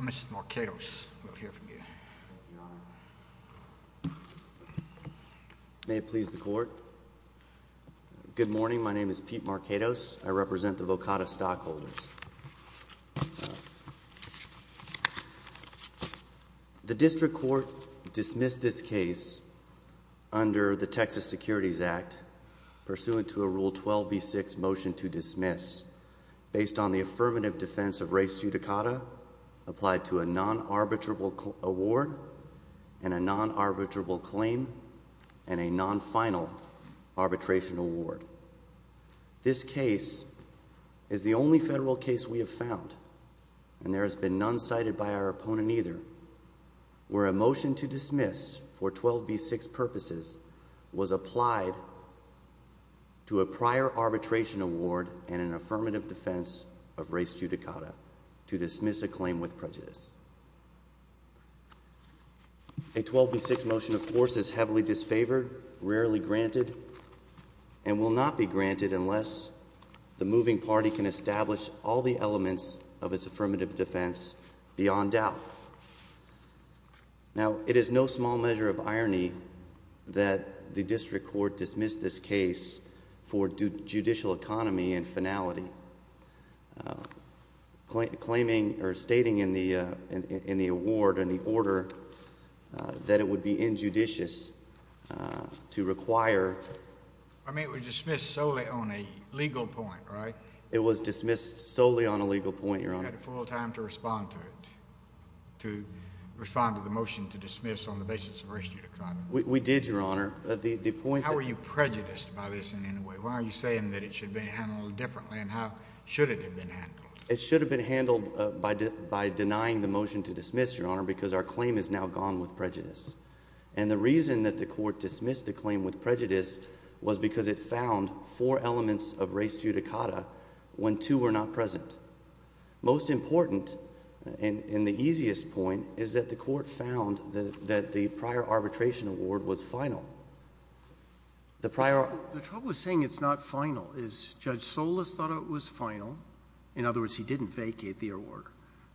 Mr. Marquetos, we'll hear from you, Your Honor. May it please the Court, good morning, my name is Pete Marquetos, I represent the Vokata stockholders. The District Court dismissed this case under the Texas Securities Act, pursuant to a Rule 12b6 motion to dismiss, based on the affirmative defense of race judicata, applied to a non-arbitrable award, and a non-arbitrable claim, and a non-final arbitration award. This case is the only federal case we have found, and there has been none cited by our opponent either, where a motion to dismiss for 12b6 purposes was applied to a prior arbitration award and an affirmative defense of race judicata, to dismiss a claim with prejudice. A 12b6 motion, of course, is heavily disfavored, rarely granted, and will not be granted unless the moving party can establish all the elements of its affirmative defense beyond doubt. Now, it is no small measure of irony that the District Court dismissed this case for judicial economy and finality, claiming or stating in the award, in the order, that it would be injudicious to require I mean, it was dismissed solely on a legal point, right? It was dismissed solely on a legal point, Your Honor. You had full time to respond to it, to respond to the motion to dismiss on the basis of race judicata. We did, Your Honor. The point that How were you prejudiced by this in any way? Why are you saying that it should be handled differently, and how should it have been handled? It should have been handled by denying the motion to dismiss, Your Honor, because our claim is now gone with prejudice. And the reason that the Court dismissed the claim with prejudice was because it found four elements of race judicata when two were not present. Most important, and the easiest point, is that the Court found that the prior arbitration award was final. The prior The trouble with saying it's not final is Judge Solis thought it was final. In other words, he didn't vacate the award.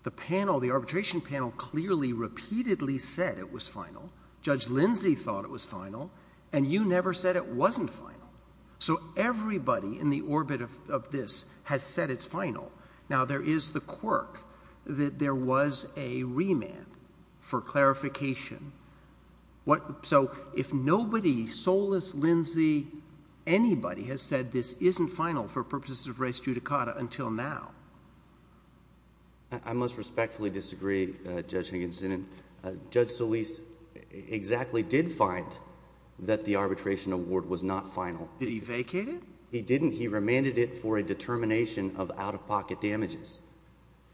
The panel, the arbitration panel, clearly, repeatedly said it was final. Judge Lindsay thought it was final. And you never said it wasn't final. So, everybody in the orbit of this has said it's final. Now, there is the quirk that there was a remand for clarification. So, if nobody, Solis, Lindsay, anybody has said this isn't final for purposes of race judicata until now. I must respectfully disagree, Judge Higginson. Judge Solis exactly did find that the arbitration award was not final. Did he vacate it? He didn't. He remanded it for a determination of out-of-pocket damages.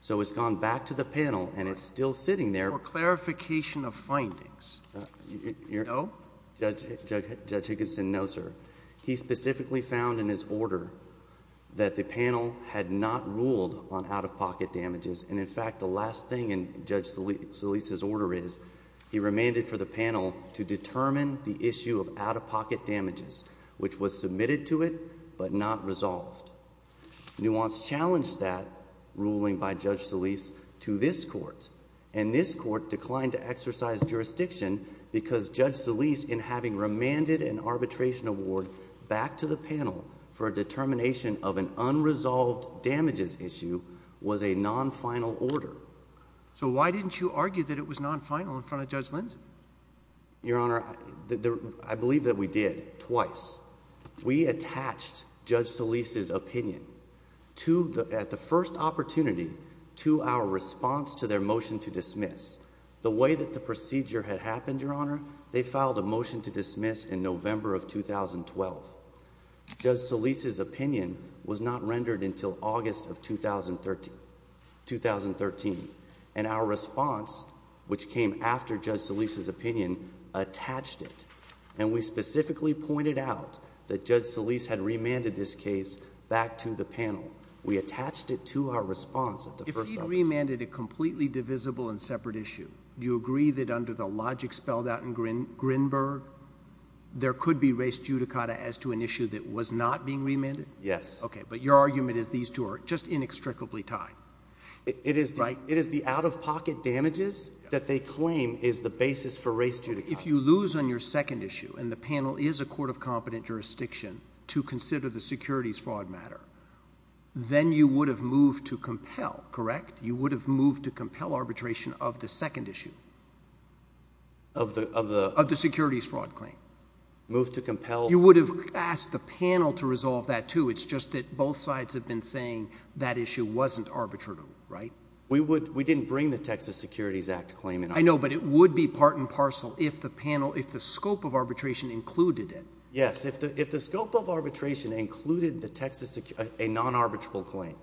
So, it's gone back to the panel, and it's still sitting there. For clarification of findings. No? Judge Higginson, no, sir. He specifically found in his order that the panel had not ruled on out-of-pocket damages. And, in fact, the last thing in Judge Solis' order is he remanded for the panel to determine the issue of out-of-pocket damages, which was submitted to it, but not resolved. Nuance challenged that ruling by Judge Solis to this court. And this court declined to exercise jurisdiction because Judge Solis, in having remanded an arbitration award back to the panel for a determination of an unresolved damages issue, was a non-final order. So, why didn't you argue that it was non-final in front of Judge Lindsay? Your Honor, I believe that we did, twice. We attached Judge Solis' opinion at the first opportunity to our response to their motion to dismiss. The way that the procedure had happened, Your Honor, they filed a motion to dismiss in November of 2012. Judge Solis' opinion was not rendered until August of 2013. And our response, which came after Judge Solis' opinion, attached it. And we specifically pointed out that Judge Solis had remanded this case back to the panel. We attached it to our response at the first opportunity. If he remanded a completely divisible and separate issue, do you agree that under the logic spelled out in Grinberg, there could be race judicata as to an issue that was not being remanded? Yes. Okay. But your argument is these two are just inextricably tied. It is the out-of-pocket damages that they claim is the basis for race judicata. If you lose on your second issue and the panel is a court of competent jurisdiction to consider the securities fraud matter, then you would have moved to compel, correct? You would have moved to compel arbitration of the second issue of the securities fraud claim. Moved to compel. You would have asked the panel to resolve that, too. It's just that both sides have been saying that issue wasn't arbitratable, right? We didn't bring the Texas Securities Act claim in. I know, but it would be part and parcel if the scope of arbitration included it. Yes. If the scope of arbitration included a non-arbitrable claim,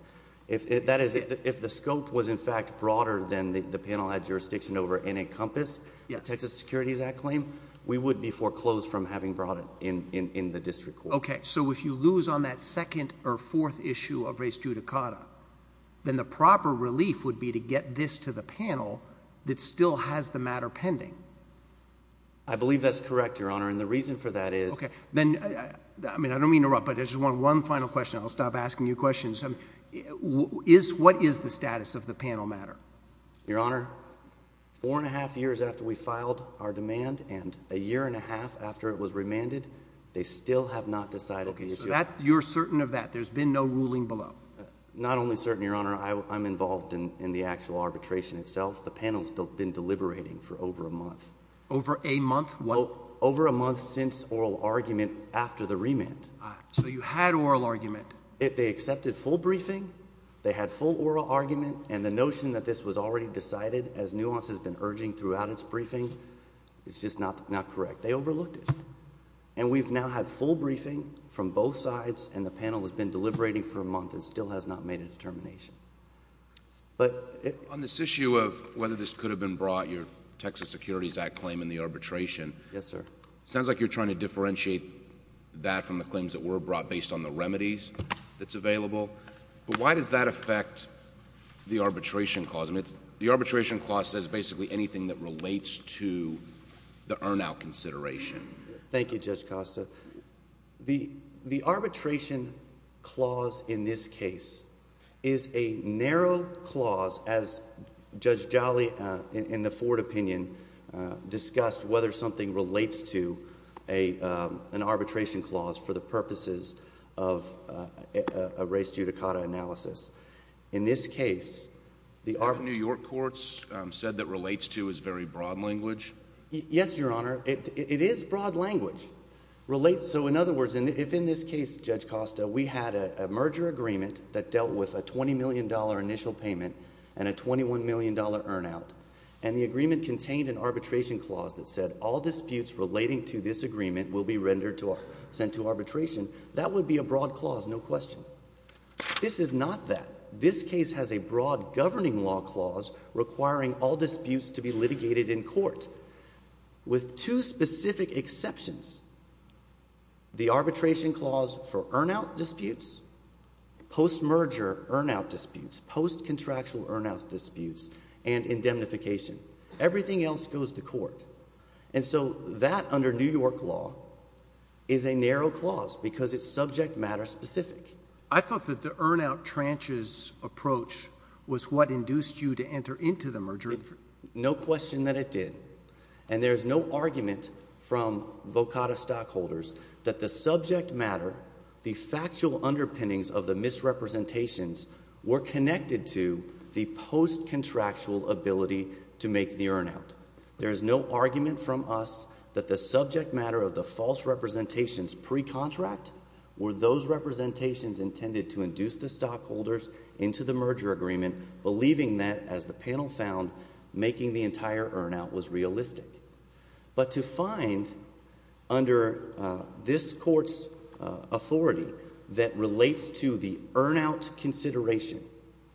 that is, if the scope was in fact broader than the panel had jurisdiction over and encompassed the Texas Securities Act claim, we would be foreclosed from having brought it in the district court. Okay. So if you lose on that second or fourth issue of race judicata, then the proper relief would be to get this to the panel that still has the matter pending. I believe that's correct, Your Honor, and the reason for that is— Okay. I mean, I don't mean to interrupt, but I just want one final question. I'll stop asking you questions. What is the status of the panel matter? Your Honor, four and a half years after we filed our demand and a year and a half after it was remanded, they still have not decided the issue. Okay. So you're certain of that? There's been no ruling below? Not only certain, Your Honor. I'm involved in the actual arbitration itself. The panel's been deliberating for over a month. Over a month? Well, over a month since oral argument after the remand. So you had oral argument. They accepted full briefing. They had full oral argument, and the notion that this was already decided, as nuance has been urging throughout its briefing, is just not correct. They overlooked it. And we've now had full briefing from both sides, and the panel has been deliberating for a month and still has not made a determination. But— On this issue of whether this could have been brought, your Texas Securities Act claim in the arbitration— Yes, sir. —sounds like you're trying to differentiate that from the claims that were brought based on the remedies that's available. But why does that affect the arbitration clause? I mean, the arbitration clause says basically anything that relates to the earn-out consideration. Thank you, Judge Costa. The arbitration clause in this case is a narrow clause, as Judge Jolly in the Ford opinion discussed, whether something relates to an arbitration clause for the purposes of a race judicata analysis. In this case, the— The New York courts said that relates to is very broad language. Yes, Your Honor. It is broad language. Relates—so in other words, if in this case, Judge Costa, we had a merger agreement that dealt with a $20 million initial payment and a $21 million earn-out, and the agreement contained an arbitration clause that said all disputes relating to this agreement will be rendered to—sent to arbitration, that would be a broad clause, no question. This is not that. This case has a broad governing law clause requiring all disputes to be litigated in court. With two specific exceptions, the arbitration clause for earn-out disputes, post-merger earn-out disputes, post-contractual earn-out disputes, and indemnification. Everything else goes to court. And so that, under New York law, is a narrow clause because it's subject-matter specific. I thought that the earn-out tranches approach was what induced you to enter into the merger agreement. No question that it did. And there is no argument from VOCADA stockholders that the subject matter, the factual underpinnings of the misrepresentations, were connected to the post-contractual ability to make the earn-out. There is no argument from us that the subject matter of the false representations pre-contract were those representations intended to induce the stockholders into the merger agreement, believing that, as the panel found, making the entire earn-out was realistic. But to find, under this court's authority, that relates to the earn-out consideration,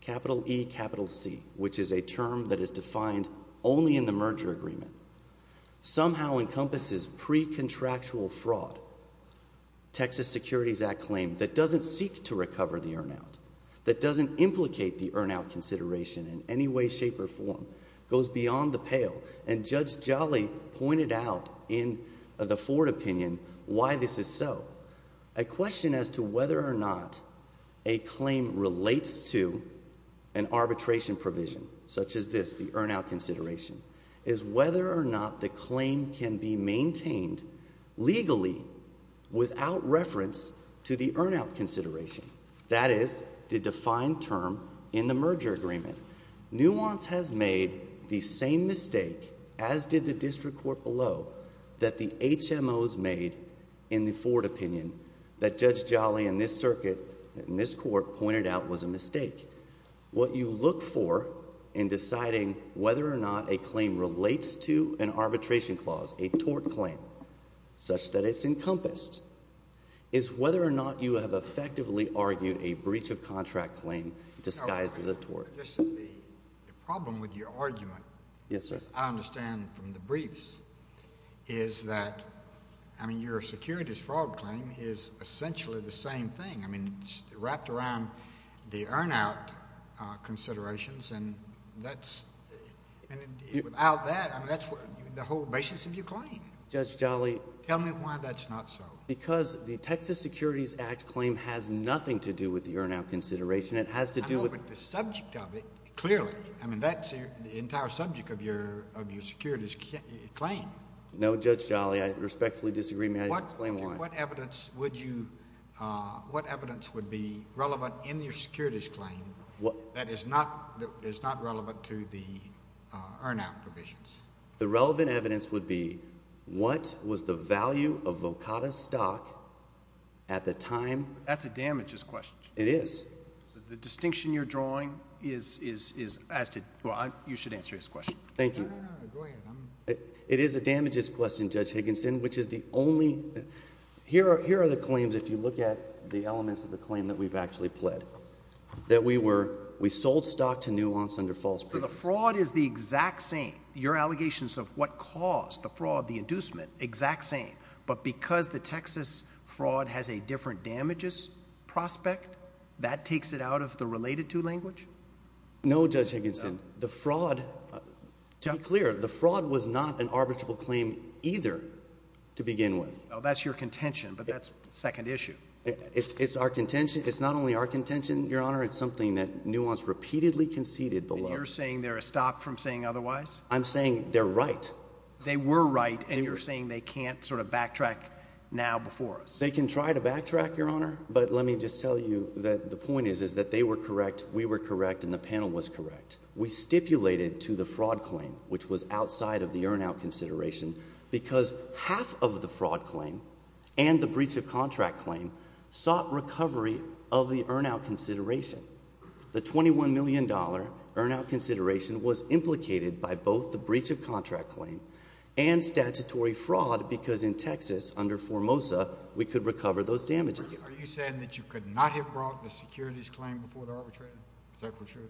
capital E, capital C, which is a term that is defined only in the merger agreement, somehow encompasses pre-contractual fraud. Texas Securities Act claim that doesn't seek to recover the earn-out, that doesn't implicate the earn-out consideration in any way, shape, or form, goes beyond the pale. And Judge Jolly pointed out in the Ford opinion why this is so. A question as to whether or not a claim relates to an arbitration provision, such as this, the earn-out consideration, is whether or not the claim can be maintained legally without reference to the earn-out consideration. That is the defined term in the merger agreement. Nuance has made the same mistake, as did the district court below, that the HMOs made in the Ford opinion that Judge Jolly and this circuit and this court pointed out was a mistake. What you look for in deciding whether or not a claim relates to an arbitration clause, a tort claim, such that it's encompassed, is whether or not you have effectively argued a breach of contract claim disguised as a tort. The problem with your argument, as I understand from the briefs, is that your securities fraud claim is essentially the same thing. It's wrapped around the earn-out considerations, and without that, that's the whole basis of your claim. Judge Jolly. Tell me why that's not so. Because the Texas Securities Act claim has nothing to do with the earn-out consideration. I know, but the subject of it, clearly, I mean, that's the entire subject of your securities claim. No, Judge Jolly, I respectfully disagree. May I explain why? What evidence would be relevant in your securities claim that is not relevant to the earn-out provisions? The relevant evidence would be what was the value of Volcata's stock at the time— That's a damages question. It is. The distinction you're drawing is as to—well, you should answer this question. Thank you. No, no, no. Go ahead. It is a damages question, Judge Higginson, which is the only—here are the claims, if you look at the elements of the claim that we've actually pled, that we were—we sold stock to nuance under false pretense. So the fraud is the exact same. Your allegations of what caused the fraud, the inducement, exact same. But because the Texas fraud has a different damages prospect, that takes it out of the related to language? No, Judge Higginson. The fraud—to be clear, the fraud was not an arbitrable claim either to begin with. Well, that's your contention, but that's second issue. It's our contention. It's not only our contention, Your Honor. It's something that nuance repeatedly conceded below. You're saying they're a stop from saying otherwise? I'm saying they're right. They were right, and you're saying they can't sort of backtrack now before us? They can try to backtrack, Your Honor, but let me just tell you that the point is that they were correct, we were correct, and the panel was correct. We stipulated to the fraud claim, which was outside of the earn-out consideration, because half of the fraud claim and the breach of contract claim sought recovery of the earn-out consideration. The $21 million earn-out consideration was implicated by both the breach of contract claim and statutory fraud because in Texas, under Formosa, we could recover those damages. Are you saying that you could not have brought the securities claim before the arbitration? Is that for sure?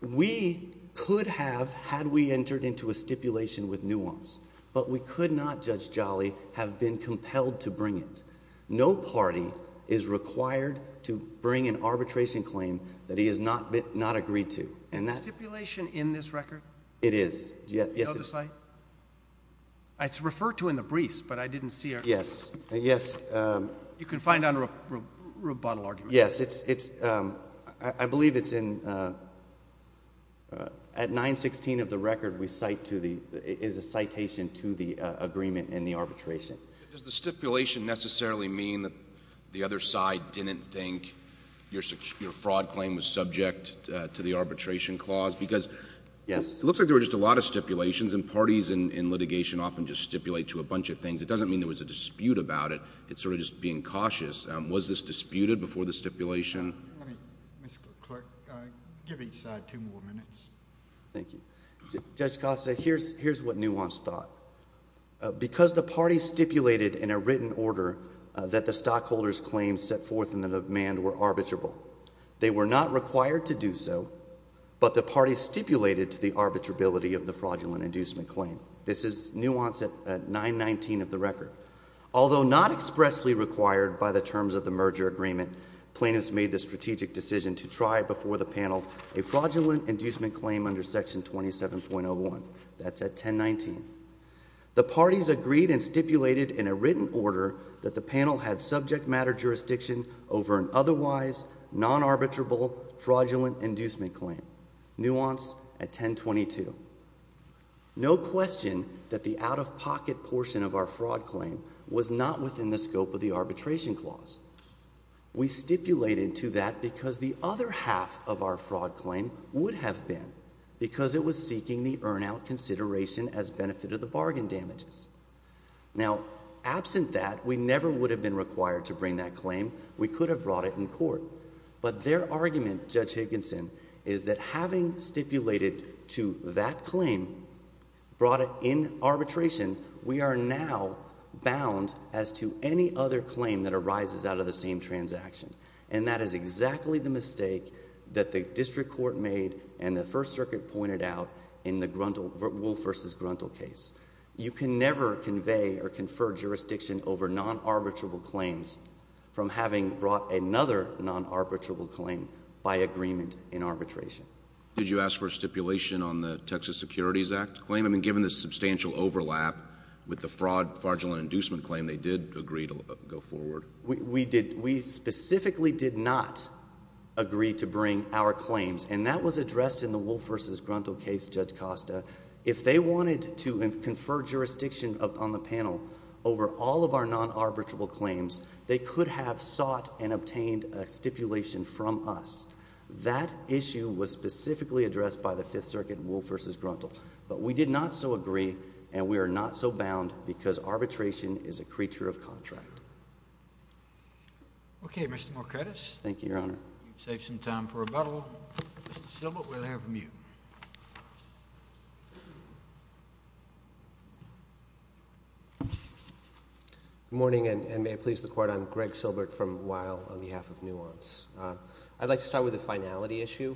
We could have had we entered into a stipulation with nuance, but we could not, Judge Jolly, have been compelled to bring it. No party is required to bring an arbitration claim that he has not agreed to. Is the stipulation in this record? It is. Do you know the site? It's referred to in the briefs, but I didn't see it. Yes. You can find it under a rebuttal argument. Yes. I believe it's in — at 916 of the record, we cite to the — it is a citation to the agreement in the arbitration. Does the stipulation necessarily mean that the other side didn't think your fraud claim was subject to the arbitration clause? Because it looks like there were just a lot of stipulations, and parties in litigation often just stipulate to a bunch of things. It doesn't mean there was a dispute about it. It's sort of just being cautious. Was this disputed before the stipulation? Mr. Clerk, give each side two more minutes. Thank you. Judge Costa, here's what nuance thought. Because the parties stipulated in a written order that the stockholders' claims set forth in the demand were arbitrable, they were not required to do so, but the parties stipulated to the arbitrability of the fraudulent inducement claim. This is nuance at 919 of the record. Although not expressly required by the terms of the merger agreement, plaintiffs made the strategic decision to try before the panel a fraudulent inducement claim under Section 27.01. That's at 1019. The parties agreed and stipulated in a written order that the panel had subject matter jurisdiction over an otherwise non-arbitrable fraudulent inducement claim. Nuance at 1022. No question that the out-of-pocket portion of our fraud claim was not within the scope of the arbitration clause. We stipulated to that because the other half of our fraud claim would have been, because it was seeking the earn-out consideration as benefit of the bargain damages. Now, absent that, we never would have been required to bring that claim. We could have brought it in court. But their argument, Judge Higginson, is that having stipulated to that claim, brought it in arbitration, we are now bound as to any other claim that arises out of the same transaction. And that is exactly the mistake that the district court made and the First Circuit pointed out in the Wohl versus Gruntal case. You can never convey or confer jurisdiction over non-arbitrable claims from having brought another non-arbitrable claim by agreement in arbitration. Did you ask for a stipulation on the Texas Securities Act claim? I mean, given the substantial overlap with the fraud, fraudulent inducement claim, they did agree to go forward. We did. We specifically did not agree to bring our claims. And that was addressed in the Wohl versus Gruntal case, Judge Costa. If they wanted to confer jurisdiction on the panel over all of our non-arbitrable claims, they could have sought and obtained a stipulation from us. That issue was specifically addressed by the Fifth Circuit, Wohl versus Gruntal. But we did not so agree, and we are not so bound, because arbitration is a creature of contract. Okay, Mr. Morkadis. Thank you, Your Honor. You've saved some time for rebuttal. Mr. Silbert, we'll have you. Good morning, and may it please the Court. I'm Greg Silbert from Weill on behalf of Nuance. I'd like to start with a finality issue.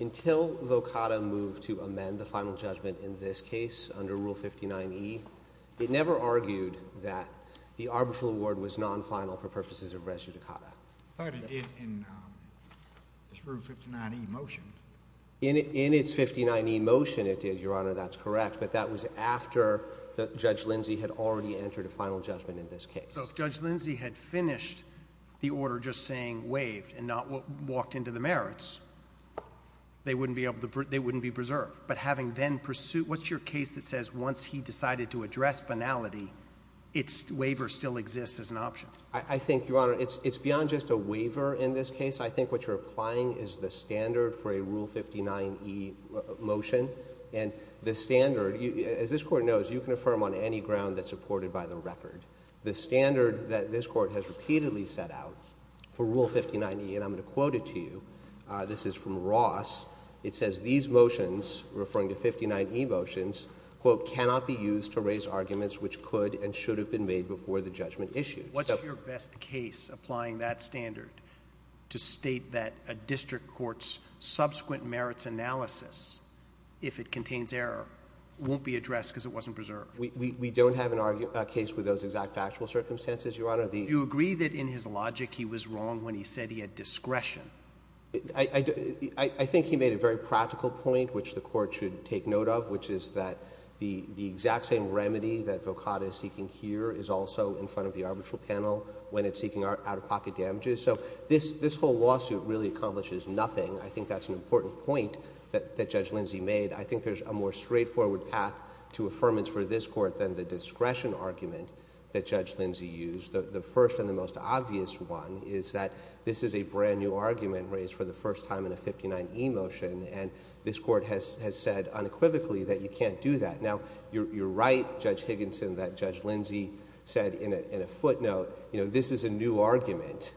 Until VOCADA moved to amend the final judgment in this case under Rule 59e, it never argued that the arbitral award was non-final for purposes of res judicata. But it did in this Rule 59e motion. In its 59e motion it did, Your Honor. That's correct. But that was after Judge Lindsay had already entered a final judgment in this case. So if Judge Lindsay had finished the order just saying waived and not walked into the merits, they wouldn't be preserved. But having then pursued... what's your case that says once he decided to address finality, its waiver still exists as an option? I think, Your Honor, it's beyond just a waiver in this case. I think what you're applying is the standard for a Rule 59e motion. And the standard... as this Court knows, you can affirm on any ground that's supported by the record. The standard that this Court has repeatedly set out for Rule 59e, and I'm going to quote it to you. This is from Ross. It says these motions, referring to 59e motions, quote, cannot be used to raise arguments which could and should have been made before the judgment issued. What's your best case applying that standard to state that a district court's subsequent merits analysis, if it contains error, won't be addressed because it wasn't preserved? We don't have a case with those exact factual circumstances, Your Honor. Do you agree that in his logic he was wrong when he said he had discretion? I think he made a very practical point, which the Court should take note of, which is that the exact same remedy that Vokada is seeking here is also in front of the arbitral panel when it's seeking out-of-pocket damages. So this whole lawsuit really accomplishes nothing. I think that's an important point that Judge Lindsay made. I think there's a more straightforward path to affirmance for this Court than the discretion argument that Judge Lindsay used. The first and the most obvious one is that this is a brand-new argument raised for the first time in a 59e motion, and this Court has said unequivocally that you can't do that. Now, you're right, Judge Higginson, that Judge Lindsay said in a footnote, you know, this is a new argument.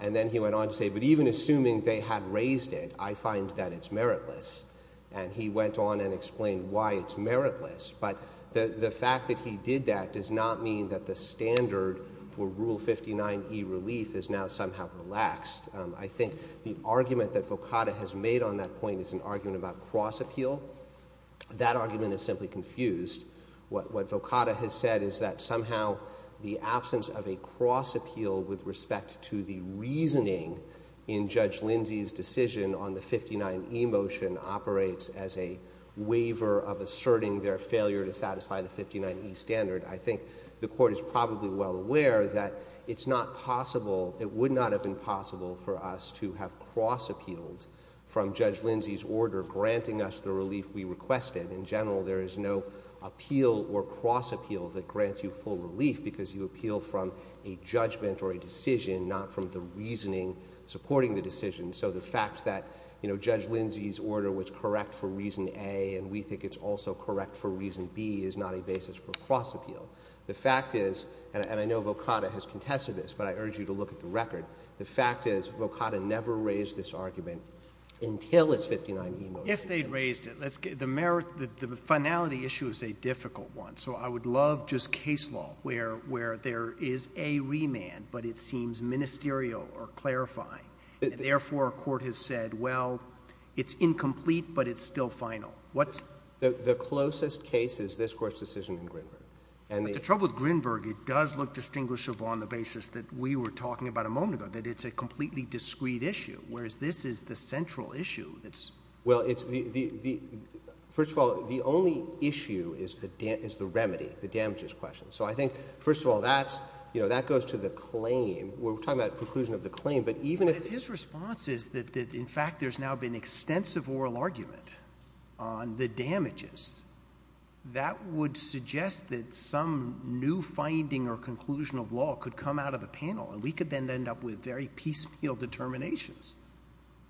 And then he went on to say, but even assuming they had raised it, I find that it's meritless. And he went on and explained why it's meritless. But the fact that he did that does not mean that the standard for Rule 59e relief is now somehow relaxed. I think the argument that Vokada has made on that point is an argument about cross-appeal. That argument is simply confused. What Vokada has said is that somehow the absence of a cross-appeal with respect to the reasoning in Judge Lindsay's decision on the 59e motion operates as a waiver of asserting their failure to satisfy the 59e standard. I think the Court is probably well aware that it's not possible, it would not have been possible for us to have cross-appealed from Judge Lindsay's order granting us the relief we requested. In general, there is no appeal or cross-appeal that grants you full relief because you appeal from a judgment or a decision, not from the reasoning supporting the decision. So the fact that, you know, Judge Lindsay's order was correct for reason A and we think it's also correct for reason B is not a basis for cross-appeal. The fact is, and I know Vokada has contested this, but I urge you to look at the record. The fact is Vokada never raised this argument until its 59e motion. If they'd raised it. The finality issue is a difficult one. So I would love just case law where there is a remand, but it seems ministerial or clarifying. Therefore, a court has said, well, it's incomplete, but it's still final. The closest case is this Court's decision in Grinberg. The trouble with Grinberg, it does look distinguishable on the basis that we were talking about a moment ago, that it's a completely discreet issue, whereas this is the central issue. Well, first of all, the only issue is the remedy, the damages question. So I think, first of all, that goes to the claim. We're talking about the conclusion of the claim, but even if— But if his response is that in fact there's now been extensive oral argument on the damages, that would suggest that some new finding or conclusion of law could come out of the panel and we could then end up with very piecemeal determinations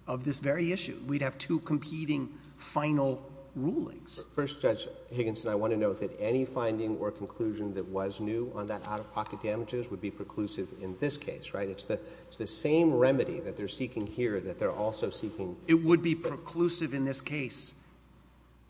of this very issue. We'd have two competing final rulings. But first, Judge Higginson, I want to note that any finding or conclusion that was new on that out-of-pocket damages would be preclusive in this case, right? It's the same remedy that they're seeking here that they're also seeking— It would be preclusive in this case.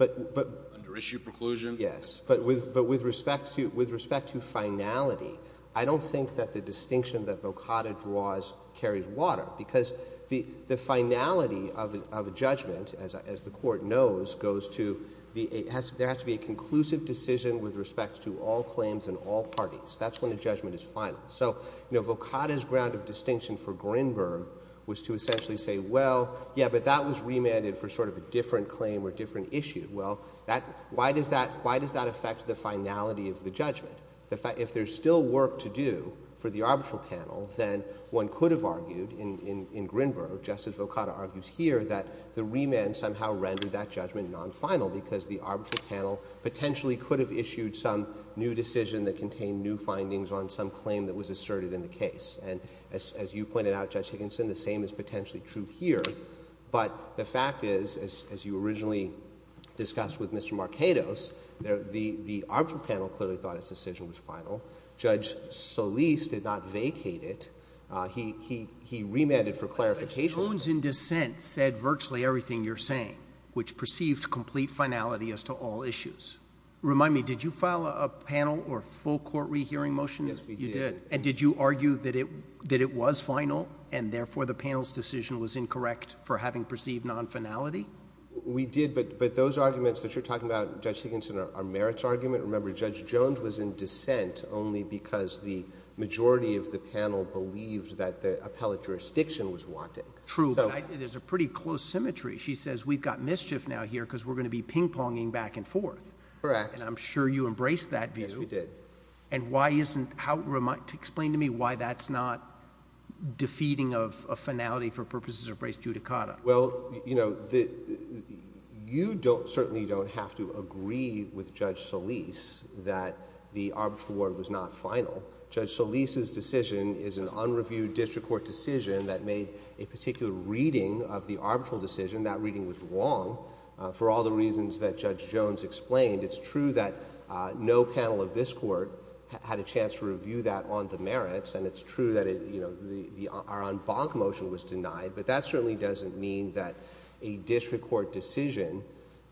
Under issue preclusion? Yes. But with respect to finality, I don't think that the distinction that Vokada draws carries water because the finality of a judgment, as the Court knows, goes to there has to be a conclusive decision with respect to all claims and all parties. That's when a judgment is final. So Vokada's ground of distinction for Grinberg was to essentially say, well, yeah, but that was remanded for sort of a different claim or different issue. Well, why does that affect the finality of the judgment? If there's still work to do for the arbitral panel, then one could have argued in Grinberg, Justice Vokada argues here, that the remand somehow rendered that judgment nonfinal because the arbitral panel potentially could have issued some new decision that contained new findings on some claim that was asserted in the case. And as you pointed out, Judge Higginson, the same is potentially true here. But the fact is, as you originally discussed with Mr. Marketos, the arbitral panel clearly thought its decision was final. Judge Solis did not vacate it. He remanded for clarification. The bones in dissent said virtually everything you're saying, which perceived complete finality as to all issues. Remind me, did you file a panel or full court rehearing motion? Yes, we did. And did you argue that it was final and therefore the panel's decision was incorrect for having perceived nonfinality? We did, but those arguments that you're talking about, Judge Higginson, are merits arguments. Remember, Judge Jones was in dissent only because the majority of the panel believed that the appellate jurisdiction was wanting. True, but there's a pretty close symmetry. She says we've got mischief now here because we're going to be ping-ponging back and forth. Correct. And I'm sure you embraced that view. Yes, we did. Explain to me why that's not defeating of finality for purposes of race judicata. Well, you know, you certainly don't have to agree with Judge Solis that the arbitral word was not final. Judge Solis's decision is an unreviewed district court decision that made a particular reading of the arbitral decision. That reading was wrong for all the reasons that Judge Jones explained. It's true that no panel of this court had a chance to review that on the merits, and it's true that our en banc motion was denied, but that certainly doesn't mean that a district court decision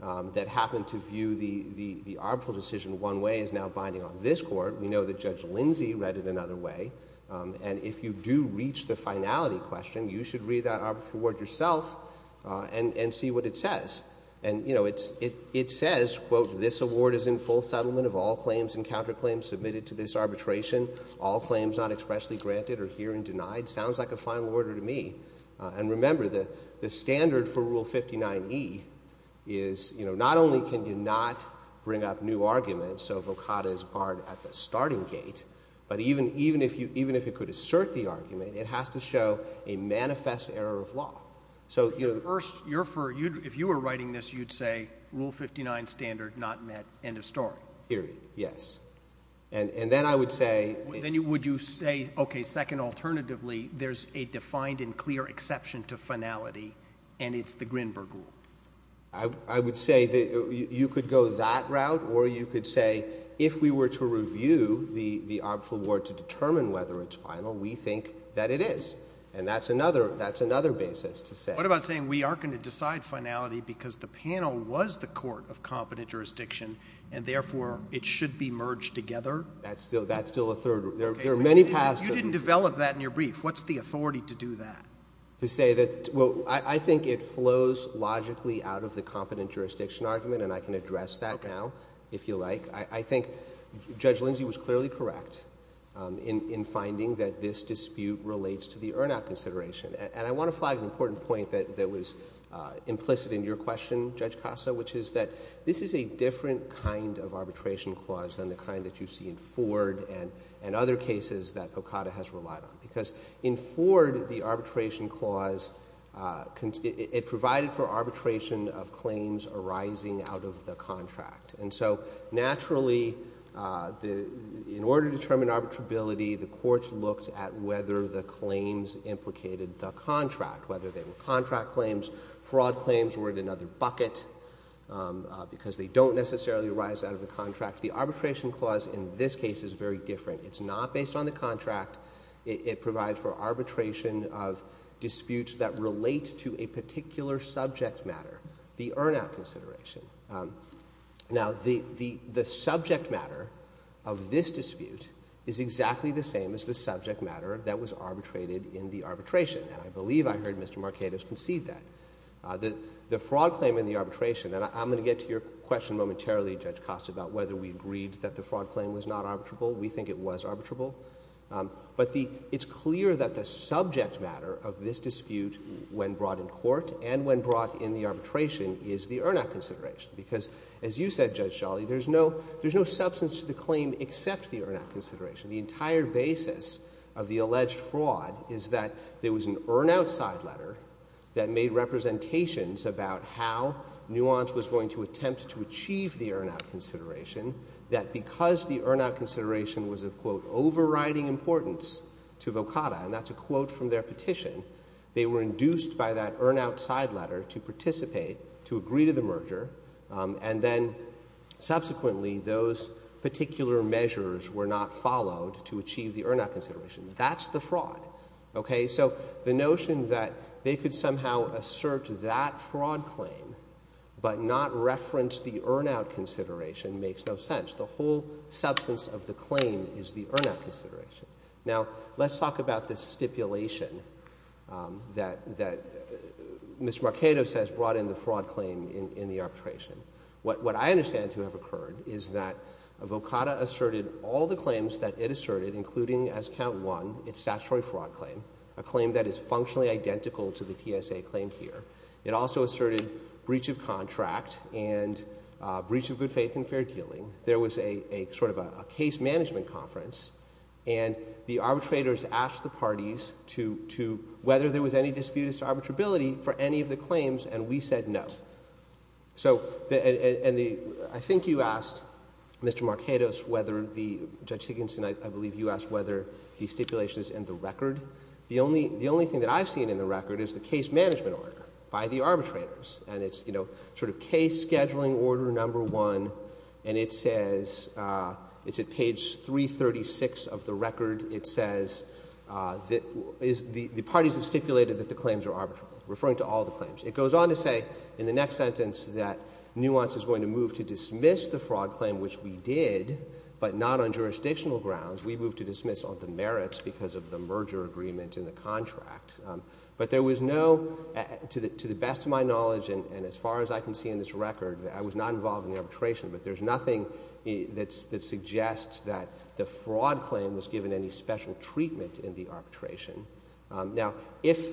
that happened to view the arbitral decision one way is now binding on this court. We know that Judge Lindsey read it another way, and if you do reach the finality question, you should read that arbitral word yourself and see what it says. And, you know, it says, quote, this award is in full settlement of all claims and counterclaims submitted to this arbitration. All claims not expressly granted are herein denied. Sounds like a final order to me. And remember, the standard for Rule 59E is, you know, not only can you not bring up new arguments, so vocata is barred at the starting gate, but even if it could assert the argument, it has to show a manifest error of law. First, if you were writing this, you'd say, Rule 59 standard not met, end of story. Period, yes. And then I would say... Then would you say, okay, second, alternatively, there's a defined and clear exception to finality, and it's the Grinberg Rule. I would say that you could go that route, or you could say if we were to review the arbitral word to determine whether it's final, we think that it is. And that's another basis to say... What about saying we are going to decide finality because the panel was the court of competent jurisdiction and, therefore, it should be merged together? That's still a third... There are many paths... You didn't develop that in your brief. What's the authority to do that? To say that... Well, I think it flows logically out of the competent jurisdiction argument, and I can address that now, if you like. I think Judge Lindsay was clearly correct in finding that this dispute relates to the earn-out consideration. And I want to flag an important point that was implicit in your question, Judge Costa, which is that this is a different kind of arbitration clause than the kind that you see in Ford and other cases that OCADA has relied on. Because in Ford, the arbitration clause... It provided for arbitration of claims arising out of the contract. And so, naturally, in order to determine arbitrability, the courts looked at whether the claims implicated the contract, whether they were contract claims, fraud claims were in another bucket, because they don't necessarily arise out of the contract. The arbitration clause in this case is very different. It's not based on the contract. It provides for arbitration of disputes that relate to a particular subject matter, the earn-out consideration. Now, the subject matter of this dispute is exactly the same as the subject matter that was arbitrated in the arbitration. And I believe I heard Mr. Marcados concede that. The fraud claim in the arbitration... And I'm going to get to your question momentarily, Judge Costa, about whether we agreed that the fraud claim was not arbitrable. We think it was arbitrable. But it's clear that the subject matter of this dispute when brought in court and when brought in the arbitration is the earn-out consideration. Because, as you said, Judge Scholle, there's no substance to the claim except the earn-out consideration. The entire basis of the alleged fraud is that there was an earn-out side letter that made representations about how Nuance was going to attempt to achieve the earn-out consideration, that because the earn-out consideration was of, quote, overriding importance to Vokada, and that's a quote from their petition, they were induced by that earn-out side letter to participate, to agree to the merger, and then, subsequently, those particular measures were not followed to achieve the earn-out consideration. That's the fraud, okay? So the notion that they could somehow assert that fraud claim but not reference the earn-out consideration makes no sense. The whole substance of the claim is the earn-out consideration. Now, let's talk about this stipulation that Ms. Marchetto says brought in the fraud claim in the arbitration. What I understand to have occurred is that Vokada asserted all the claims that it asserted, including, as count one, its statutory fraud claim, a claim that is functionally identical to the TSA claim here. It also asserted breach of contract and breach of good faith and fair dealing. There was a sort of a case management conference, and the arbitrators asked the parties whether there was any disputed arbitrability for any of the claims, and we said no. So, and the... I think you asked, Mr. Marchetto, whether the... Judge Higginson, I believe you asked whether the stipulation is in the record. The only thing that I've seen in the record is the case management order by the arbitrators, and it's, you know, sort of case scheduling order number one, and it says... It's at page 336 of the record. It says that the parties have stipulated that the claims are arbitral, referring to all the claims. It goes on to say in the next sentence that Nuance is going to move to dismiss the fraud claim, which we did, but not on jurisdictional grounds. We moved to dismiss on the merits because of the merger agreement in the contract. But there was no... To the best of my knowledge, and as far as I can see in this record, I was not involved in the arbitration, but there's nothing that suggests that the fraud claim was given any special treatment in the arbitration. Now, if...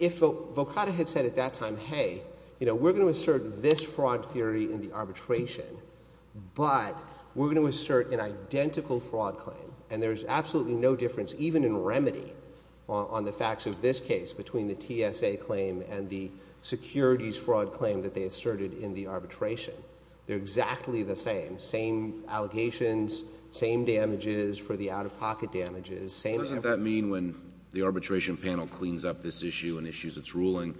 If Volcata had said at that time, hey, you know, we're going to assert this fraud theory in the arbitration, but we're going to assert an identical fraud claim, and there's absolutely no difference, even in remedy, on the facts of this case between the TSA claim and the securities fraud claim that they asserted in the arbitration. They're exactly the same. Same allegations, same damages for the out-of-pocket damages, same... So does that mean when the arbitration panel cleans up this issue and issues its ruling,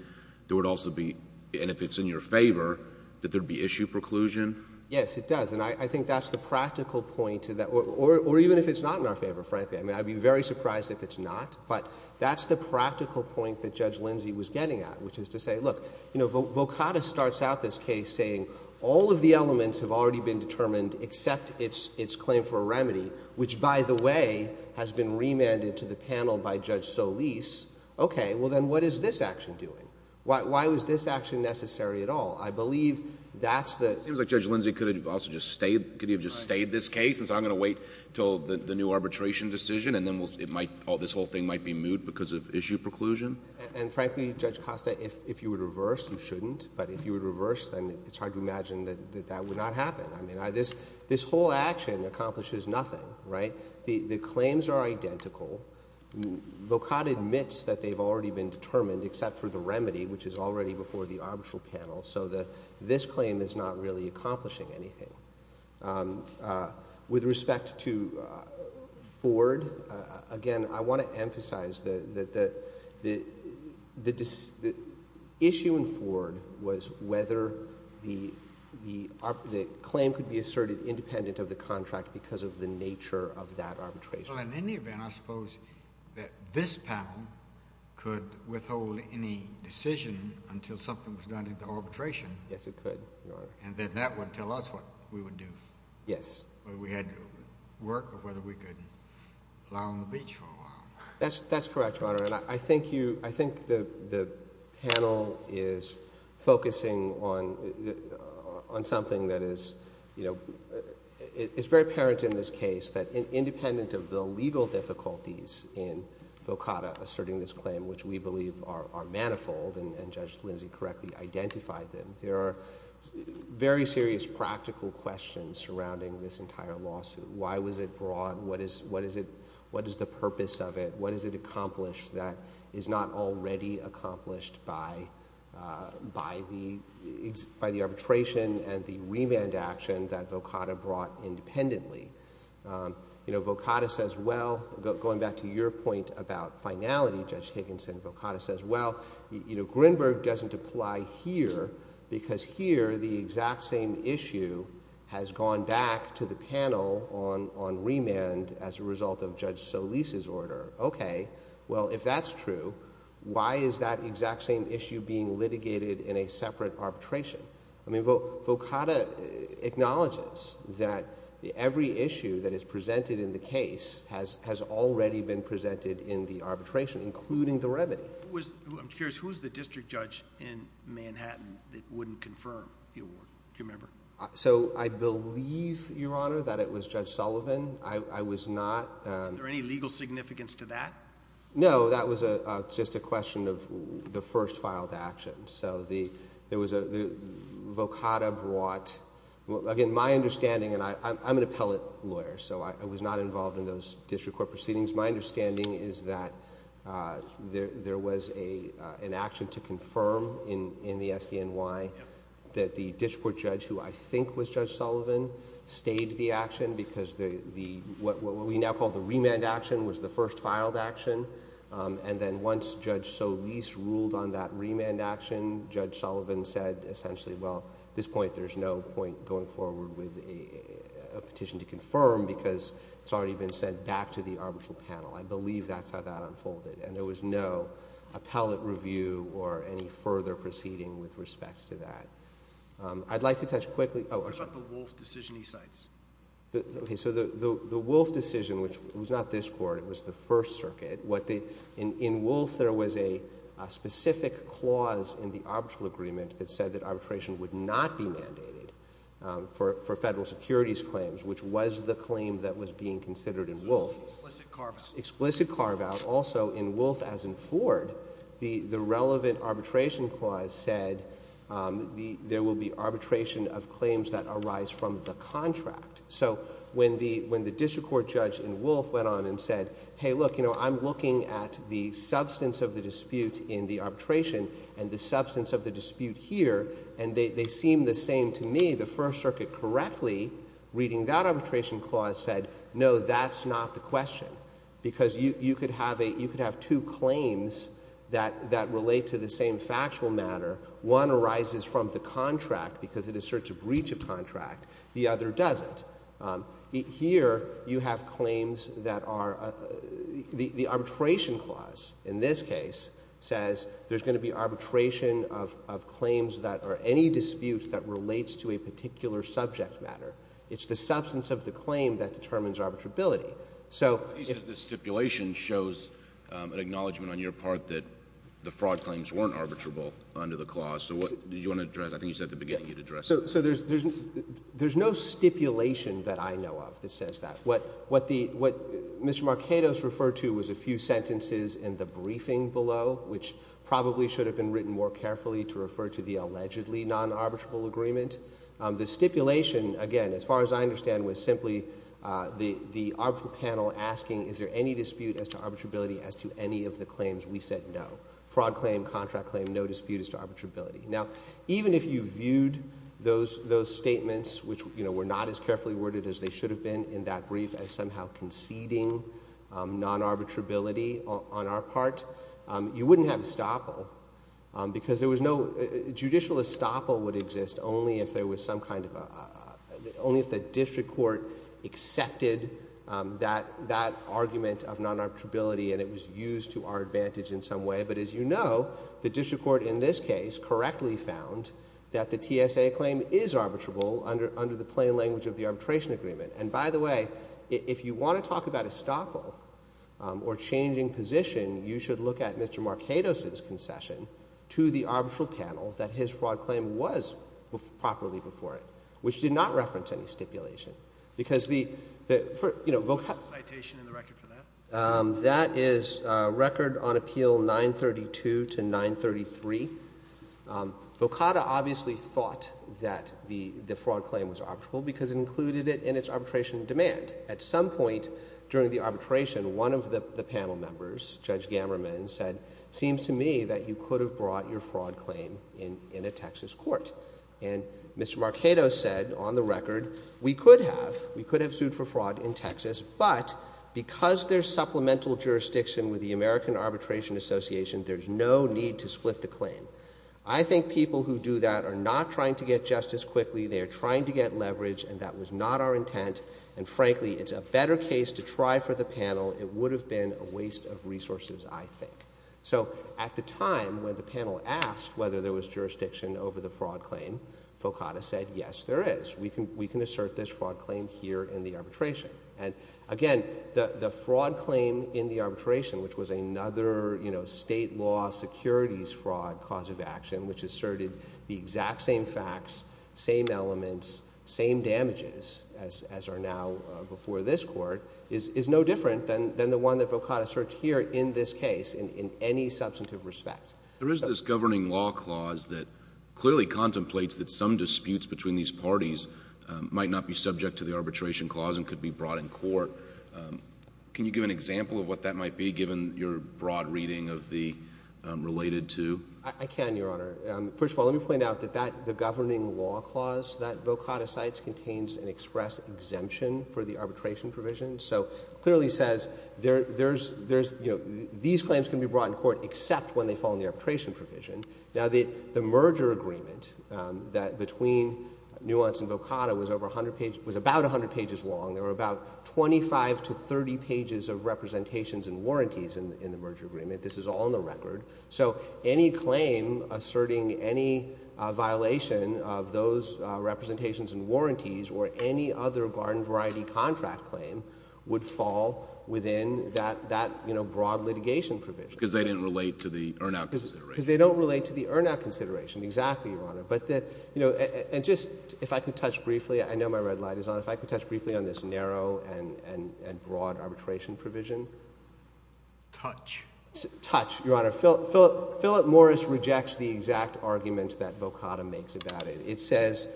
there would also be... And if it's in your favor, that there'd be issue preclusion? Yes, it does, and I think that's the practical point to that... Or even if it's not in our favor, frankly. I mean, I'd be very surprised if it's not, but that's the practical point that Judge Lindsey was getting at, which is to say, look, you know, Volcata starts out this case saying all of the elements have already been determined except its claim for a remedy, which, by the way, has been remanded to the panel by Judge Solis. Okay, well then what is this action doing? Why was this action necessary at all? I believe that's the... It seems like Judge Lindsey could have also just stayed this case and said, I'm going to wait until the new arbitration decision and then this whole thing might be moot because of issue preclusion. And frankly, Judge Costa, if you would reverse, you shouldn't, but if you would reverse, then it's hard to imagine that that would not happen. I mean, this whole action accomplishes nothing, right? The claims are identical. Volcata admits that they've already been determined except for the remedy, which is already before the arbitral panel, so this claim is not really accomplishing anything. With respect to Ford, again, I want to emphasize that the issue in Ford was whether the claim could be asserted independent of the contract because of the nature of that arbitration. Well, in any event, I suppose that this panel could withhold any decision until something was done into arbitration. Yes, it could, Your Honor. And then that would tell us what we would do. Yes. Whether we had to work or whether we could lie on the beach for a while. That's correct, Your Honor, and I think the panel is focusing on something that is very apparent in this case that independent of the legal difficulties in Volcata asserting this claim which we believe are manifold and Judge Lindsay correctly identified them, there are very serious practical questions surrounding this entire lawsuit. Why was it brought? What is the purpose of it? What has it accomplished that is not already accomplished by the arbitration and the remand action that Volcata brought independently? Volcata says, well, going back to your point about finality, Judge Higginson, Volcata says, well, Grinberg doesn't apply here because here the exact same issue has gone back to the panel on remand as a result of Judge Solis' order. Okay, well, if that's true, why is that exact same issue being litigated in a separate arbitration? I mean, Volcata acknowledges that every issue that is presented in the case has already been presented in the arbitration including the remedy. I'm curious, who's the district judge in Manhattan that wouldn't confirm the award? Do you remember? I believe, Your Honor, that it was Judge Sullivan. I was not Is there any legal significance to that? No, that was just a question of the first filed action. So, Volcata brought Again, my understanding, and I'm an appellate lawyer, so I was not involved in those district court proceedings. My understanding is that there was an action to confirm in the SDNY that the district court judge, who I think was Judge Sullivan, stayed the action because what we now call the remand action was the first filed action, and then once Judge Solis ruled on that remand action, Judge Sullivan said essentially, well, at this point, there's no point going forward with a petition to confirm because it's already been sent back to the arbitral panel. I believe that's how that unfolded, and there was no appellate review or any further proceeding with respect to that. I'd like to touch quickly on What about the Wolfe decision he cites? Okay, so the Wolfe decision, which was not this court, it was the First Circuit. In Wolfe, there was a specific clause in the arbitral agreement that said that arbitration would not be mandated for federal securities claims, which was the claim that was being considered in Wolfe. Explicit carve-out, also in Wolfe, as in Ford, the relevant arbitration clause said there would be arbitration of claims that arise from the contract. When the district court judge in Wolfe went on and said, hey, look, I'm looking at the substance of the dispute in the arbitration and the substance of the dispute here and they seem the same to me, the First Circuit correctly reading that arbitration clause said no, that's not the question because you could have two claims that relate to the same factual matter. One arises from the contract because it asserts a breach of contract. The other doesn't. Here, you have claims that are, the arbitration clause, in this case, says there's going to be arbitration of claims that are any dispute that relates to a particular subject matter. It's the substance of the claim that determines arbitrability. The stipulation shows an acknowledgement on your part that the fraud claims weren't arbitrable under the clause. I think you said at the beginning you'd address it. There's no stipulation that I know of that says that. What Mr. Marketos referred to was a few sentences in the briefing below, which probably should have been written more carefully to refer to the allegedly non-arbitrable agreement. The stipulation, again, as far as I understand, was simply the arbitral panel asking is there any dispute as to arbitrability as to any of the claims we said no? Fraud claim, contract claim, no dispute as to arbitrability. Even if you viewed those statements, which were not as carefully worded as they should have been in that brief, as somehow conceding non-arbitrability on our part, you wouldn't have estoppel because there was no judicial estoppel would exist only if there was some kind of only if the district court accepted that argument of non-arbitrability and it was used to our advantage in some way. But as you know, the district court in this case correctly found that the TSA claim is arbitrable under the plain language of the arbitration agreement. And by the way, if you want to talk about estoppel or changing position, you should look at Mr. Marketos' concession to the arbitral panel that his fraud claim was properly before it, which did not reference any stipulation. What's the citation in the record for that? That is record on appeal 932 to 933. Volcata obviously thought that the fraud claim was arbitrable because it included it in its arbitration demand. At some point during the arbitration, one of the panel members, Judge Gammerman, said seems to me that you could have brought your fraud claim in a Texas court. And Mr. Marketos said, on the record, we could have sued for fraud in Texas, but because there's supplemental jurisdiction with the American Arbitration Association, there's no need to split the claim. I think people who do that are not trying to get justice quickly. They are trying to get leverage, and that was not our intent. And frankly, it's a better case to try for the panel. It would have been a waste of resources, I think. So at the time when the panel asked whether there was jurisdiction over the fraud claim, Volcata said, yes, there is. We can assert this fraud claim here in the arbitration. And again, the fraud claim in the arbitration, which was another state law securities fraud cause of action, which asserted the exact same facts, same elements, same damages, as are now before this Court, is no different than the one that Volcata asserted here in this case in any substantive respect. There is this governing law clause that clearly contemplates that some disputes between these parties might not be subject to the arbitration clause and could be brought in court. Can you give an example of what that might be, given your broad reading of the related to? I can, Your Honor. First of all, let me point out that the governing law clause that Volcata cites contains an express exemption for the arbitration provision. So it clearly says there's, you know, these claims can be brought in court except when they fall in the arbitration provision. Now the merger agreement that between Nuance and Volcata was about 100 pages long. There were about 25 to 30 pages of representations and warranties in the merger agreement. This is all in the record. So any claim asserting any violation of those representations and warranties or any other garden variety contract claim would fall within that, you know, broad litigation provision. Because they didn't relate to the earn-out consideration. Because they don't relate to the earn-out consideration, exactly, Your Honor. And just, if I could touch briefly, I know my red light is on, if I could touch briefly on this narrow and broad arbitration provision. Touch. Touch, Your Honor. Philip Morris rejects the exact argument that Volcata makes about it. It says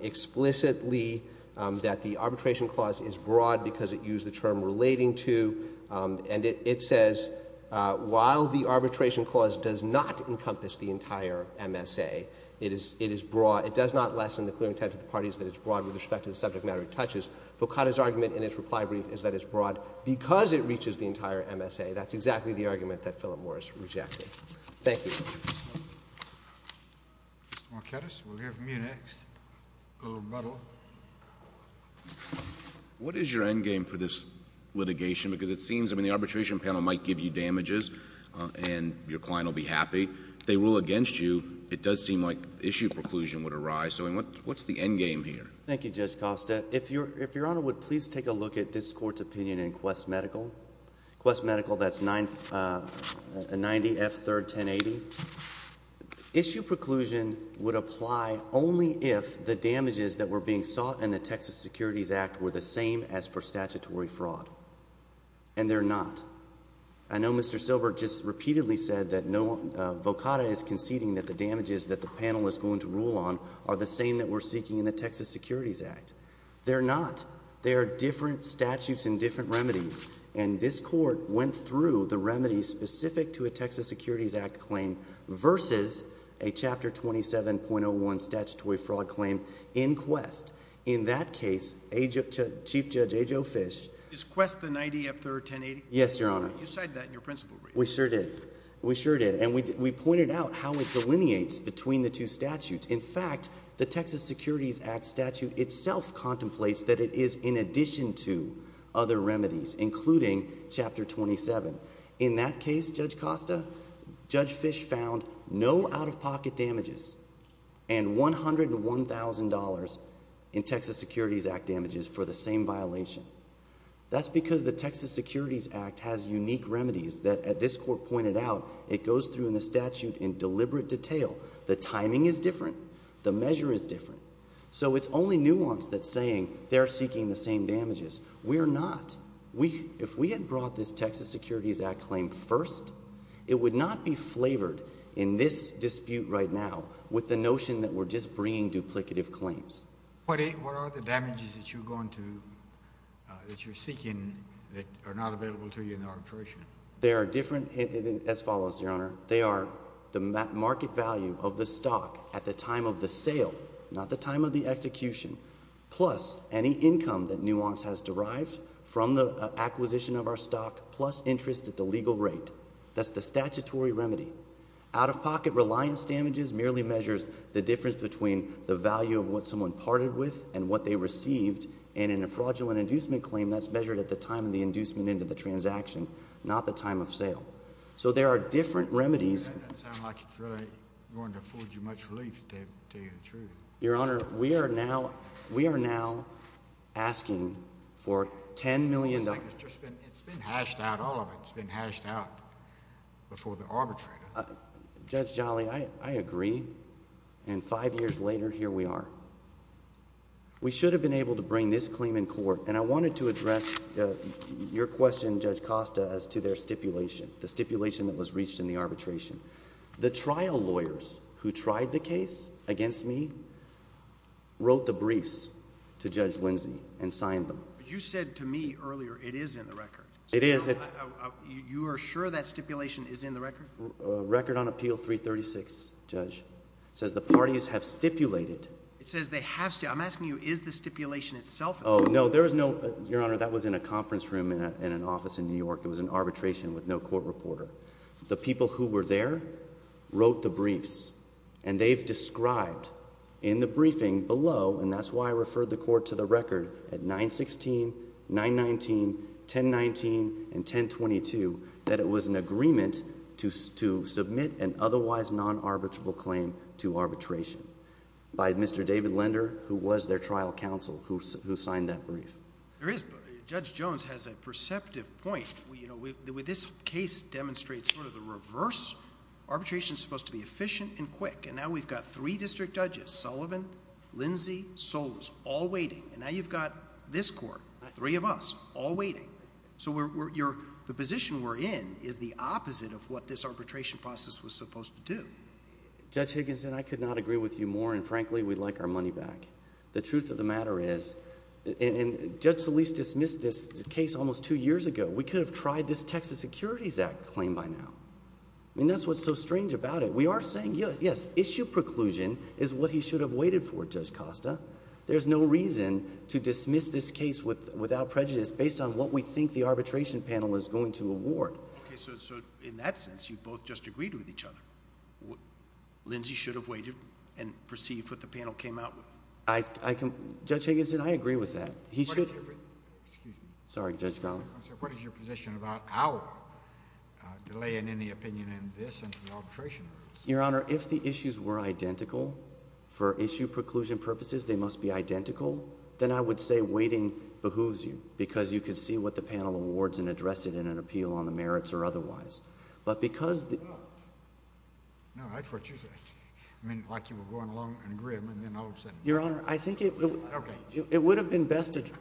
explicitly that the arbitration clause is broad because it used the term relating to, and it says while the arbitration clause does not encompass the entire MSA, it is broad. It does not lessen the clear intent of the parties that it's broad with respect to the subject matter it touches. Volcata's argument in its reply brief is that it's broad because it reaches the entire MSA. That's exactly the argument that Philip Morris rejected. Thank you. Mr. Marquetas, we'll hear from you next. A little rebuttal. What is your endgame for this litigation? Because it seems, I mean, the arbitration panel might give you damages and your client will be happy. If they rule against you, it does seem like issue preclusion would arise. What's the endgame here? Thank you, Judge Costa. If Your Honor would please take a look at this Court's opinion in Quest Medical. Quest Medical, that's 90F31080. Issue preclusion would apply only if the damages that were being sought in the Texas Securities Act were the same as for statutory fraud. And they're not. I know Mr. Silbert just repeatedly said that Volcata is conceding that the damages that the panel is going to rule on are the same that we're seeking in the Texas Securities Act. They're not. They are different statutes and different remedies. And this Court went through the remedies specific to a Texas Securities Act claim versus a Chapter 27.01 statutory fraud claim in Quest. In that case, Chief Judge A. Joe Fish Is Quest the 90F31080? Yes, Your Honor. You cited that in your principle brief. We sure did. And we pointed out how it delineates between the two statutes. In fact, the Texas Securities Act statute itself contemplates that it is in addition to other remedies, including Chapter 27. In that case, Judge Costa, Judge Fish found no out-of-pocket damages and $101,000 in Texas Securities Act damages for the same violation. That's because the Texas Securities Act has unique remedies that, as this Court pointed out, it goes through in the statute in deliberate detail. The timing is different. The measure is different. So it's only nuance that's saying they're seeking the same damages. We're not. If we had brought this Texas Securities Act claim first, it would not be flavored in this dispute right now with the notion that we're just bringing duplicative claims. What are the damages that you're going to that you're seeking that are not available to you in the arbitration? They are different as follows, Your Honor. They are the market value of the stock at the time of the sale, not the time of the execution, plus any income that nuance has derived from the acquisition of our stock, plus interest at the legal rate. That's the statutory remedy. Out-of-pocket reliance damages merely measures the difference between the value of what someone parted with and what they received, and in a fraudulent inducement claim, that's measured at the time of the inducement into the transaction, not the time of sale. So there are different remedies. That doesn't sound like it's really going to afford you much relief, to tell you the truth. Your Honor, we are now asking for $10 million. It's been hashed out, all of it's been hashed out before the arbitrator. Judge Jolly, I agree, and five years later, here we are. We should have been able to bring this claim in court, and I wanted to address your question, Judge Costa, as to their stipulation, the stipulation that was reached in the arbitration. The trial lawyers who tried the case against me wrote the briefs to Judge Lindsey and signed them. But you said to me earlier, it is in the record. It is. You are sure that stipulation is in the record? Record on Appeal 336, Judge. It says the parties have stipulated. It says they have stipulated. I'm asking you, is the stipulation itself in the record? Your Honor, that was in a conference room in an office in New York. It was in arbitration with no court reporter. The people who were there wrote the briefs, and they've described in the briefing below, and that's why I referred the court to the 919, 1019, and 1022, that it was an agreement to submit an otherwise non-arbitrable claim to arbitration by Mr. David Lender, who was their trial counsel, who signed that brief. There is. Judge Jones has a perceptive point. This case demonstrates sort of the reverse. Arbitration is supposed to be efficient and quick, and now we've got three district judges, Sullivan, Lindsey, Solis, all waiting. Now you've got this court, three of us, all waiting. The position we're in is the opposite of what this arbitration process was supposed to do. Judge Higginson, I could not agree with you more, and frankly, we'd like our money back. The truth of the matter is, Judge Solis dismissed this case almost two years ago. We could have tried this Texas Securities Act claim by now. That's what's so strange about it. We are saying, yes, issue preclusion is what he should have waited for, Judge Costa. There's no reason to dismiss this case without prejudice, based on what we think the arbitration panel is going to award. In that sense, you both just agreed with each other. Lindsey should have waited and perceived what the panel came out with. Judge Higginson, I agree with that. Excuse me. What is your position about our delay in any opinion in this and the arbitration? Your Honor, if the issues were identical for issue preclusion purposes, they must be identical, then I would say waiting behooves you, because you could see what the panel awards and address it in an appeal on the merits or otherwise. But because... No, that's what you said. I mean, like you were going along in a grim, and then all of a sudden... Your Honor, I think it would have been best addressed,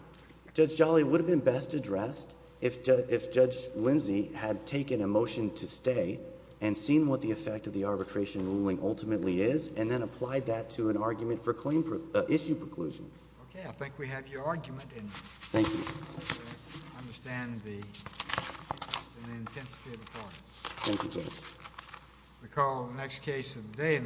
Judge Jolly, it would have been best addressed if Judge Lindsey had taken a motion to stay and seen what the effect of the arbitration ruling ultimately is, and then applied that to an argument for claim... issue preclusion. Okay, I think we have your argument in there. Thank you. I understand the interest and the intensity of the part. Thank you, Judge. We'll call the next case of the day.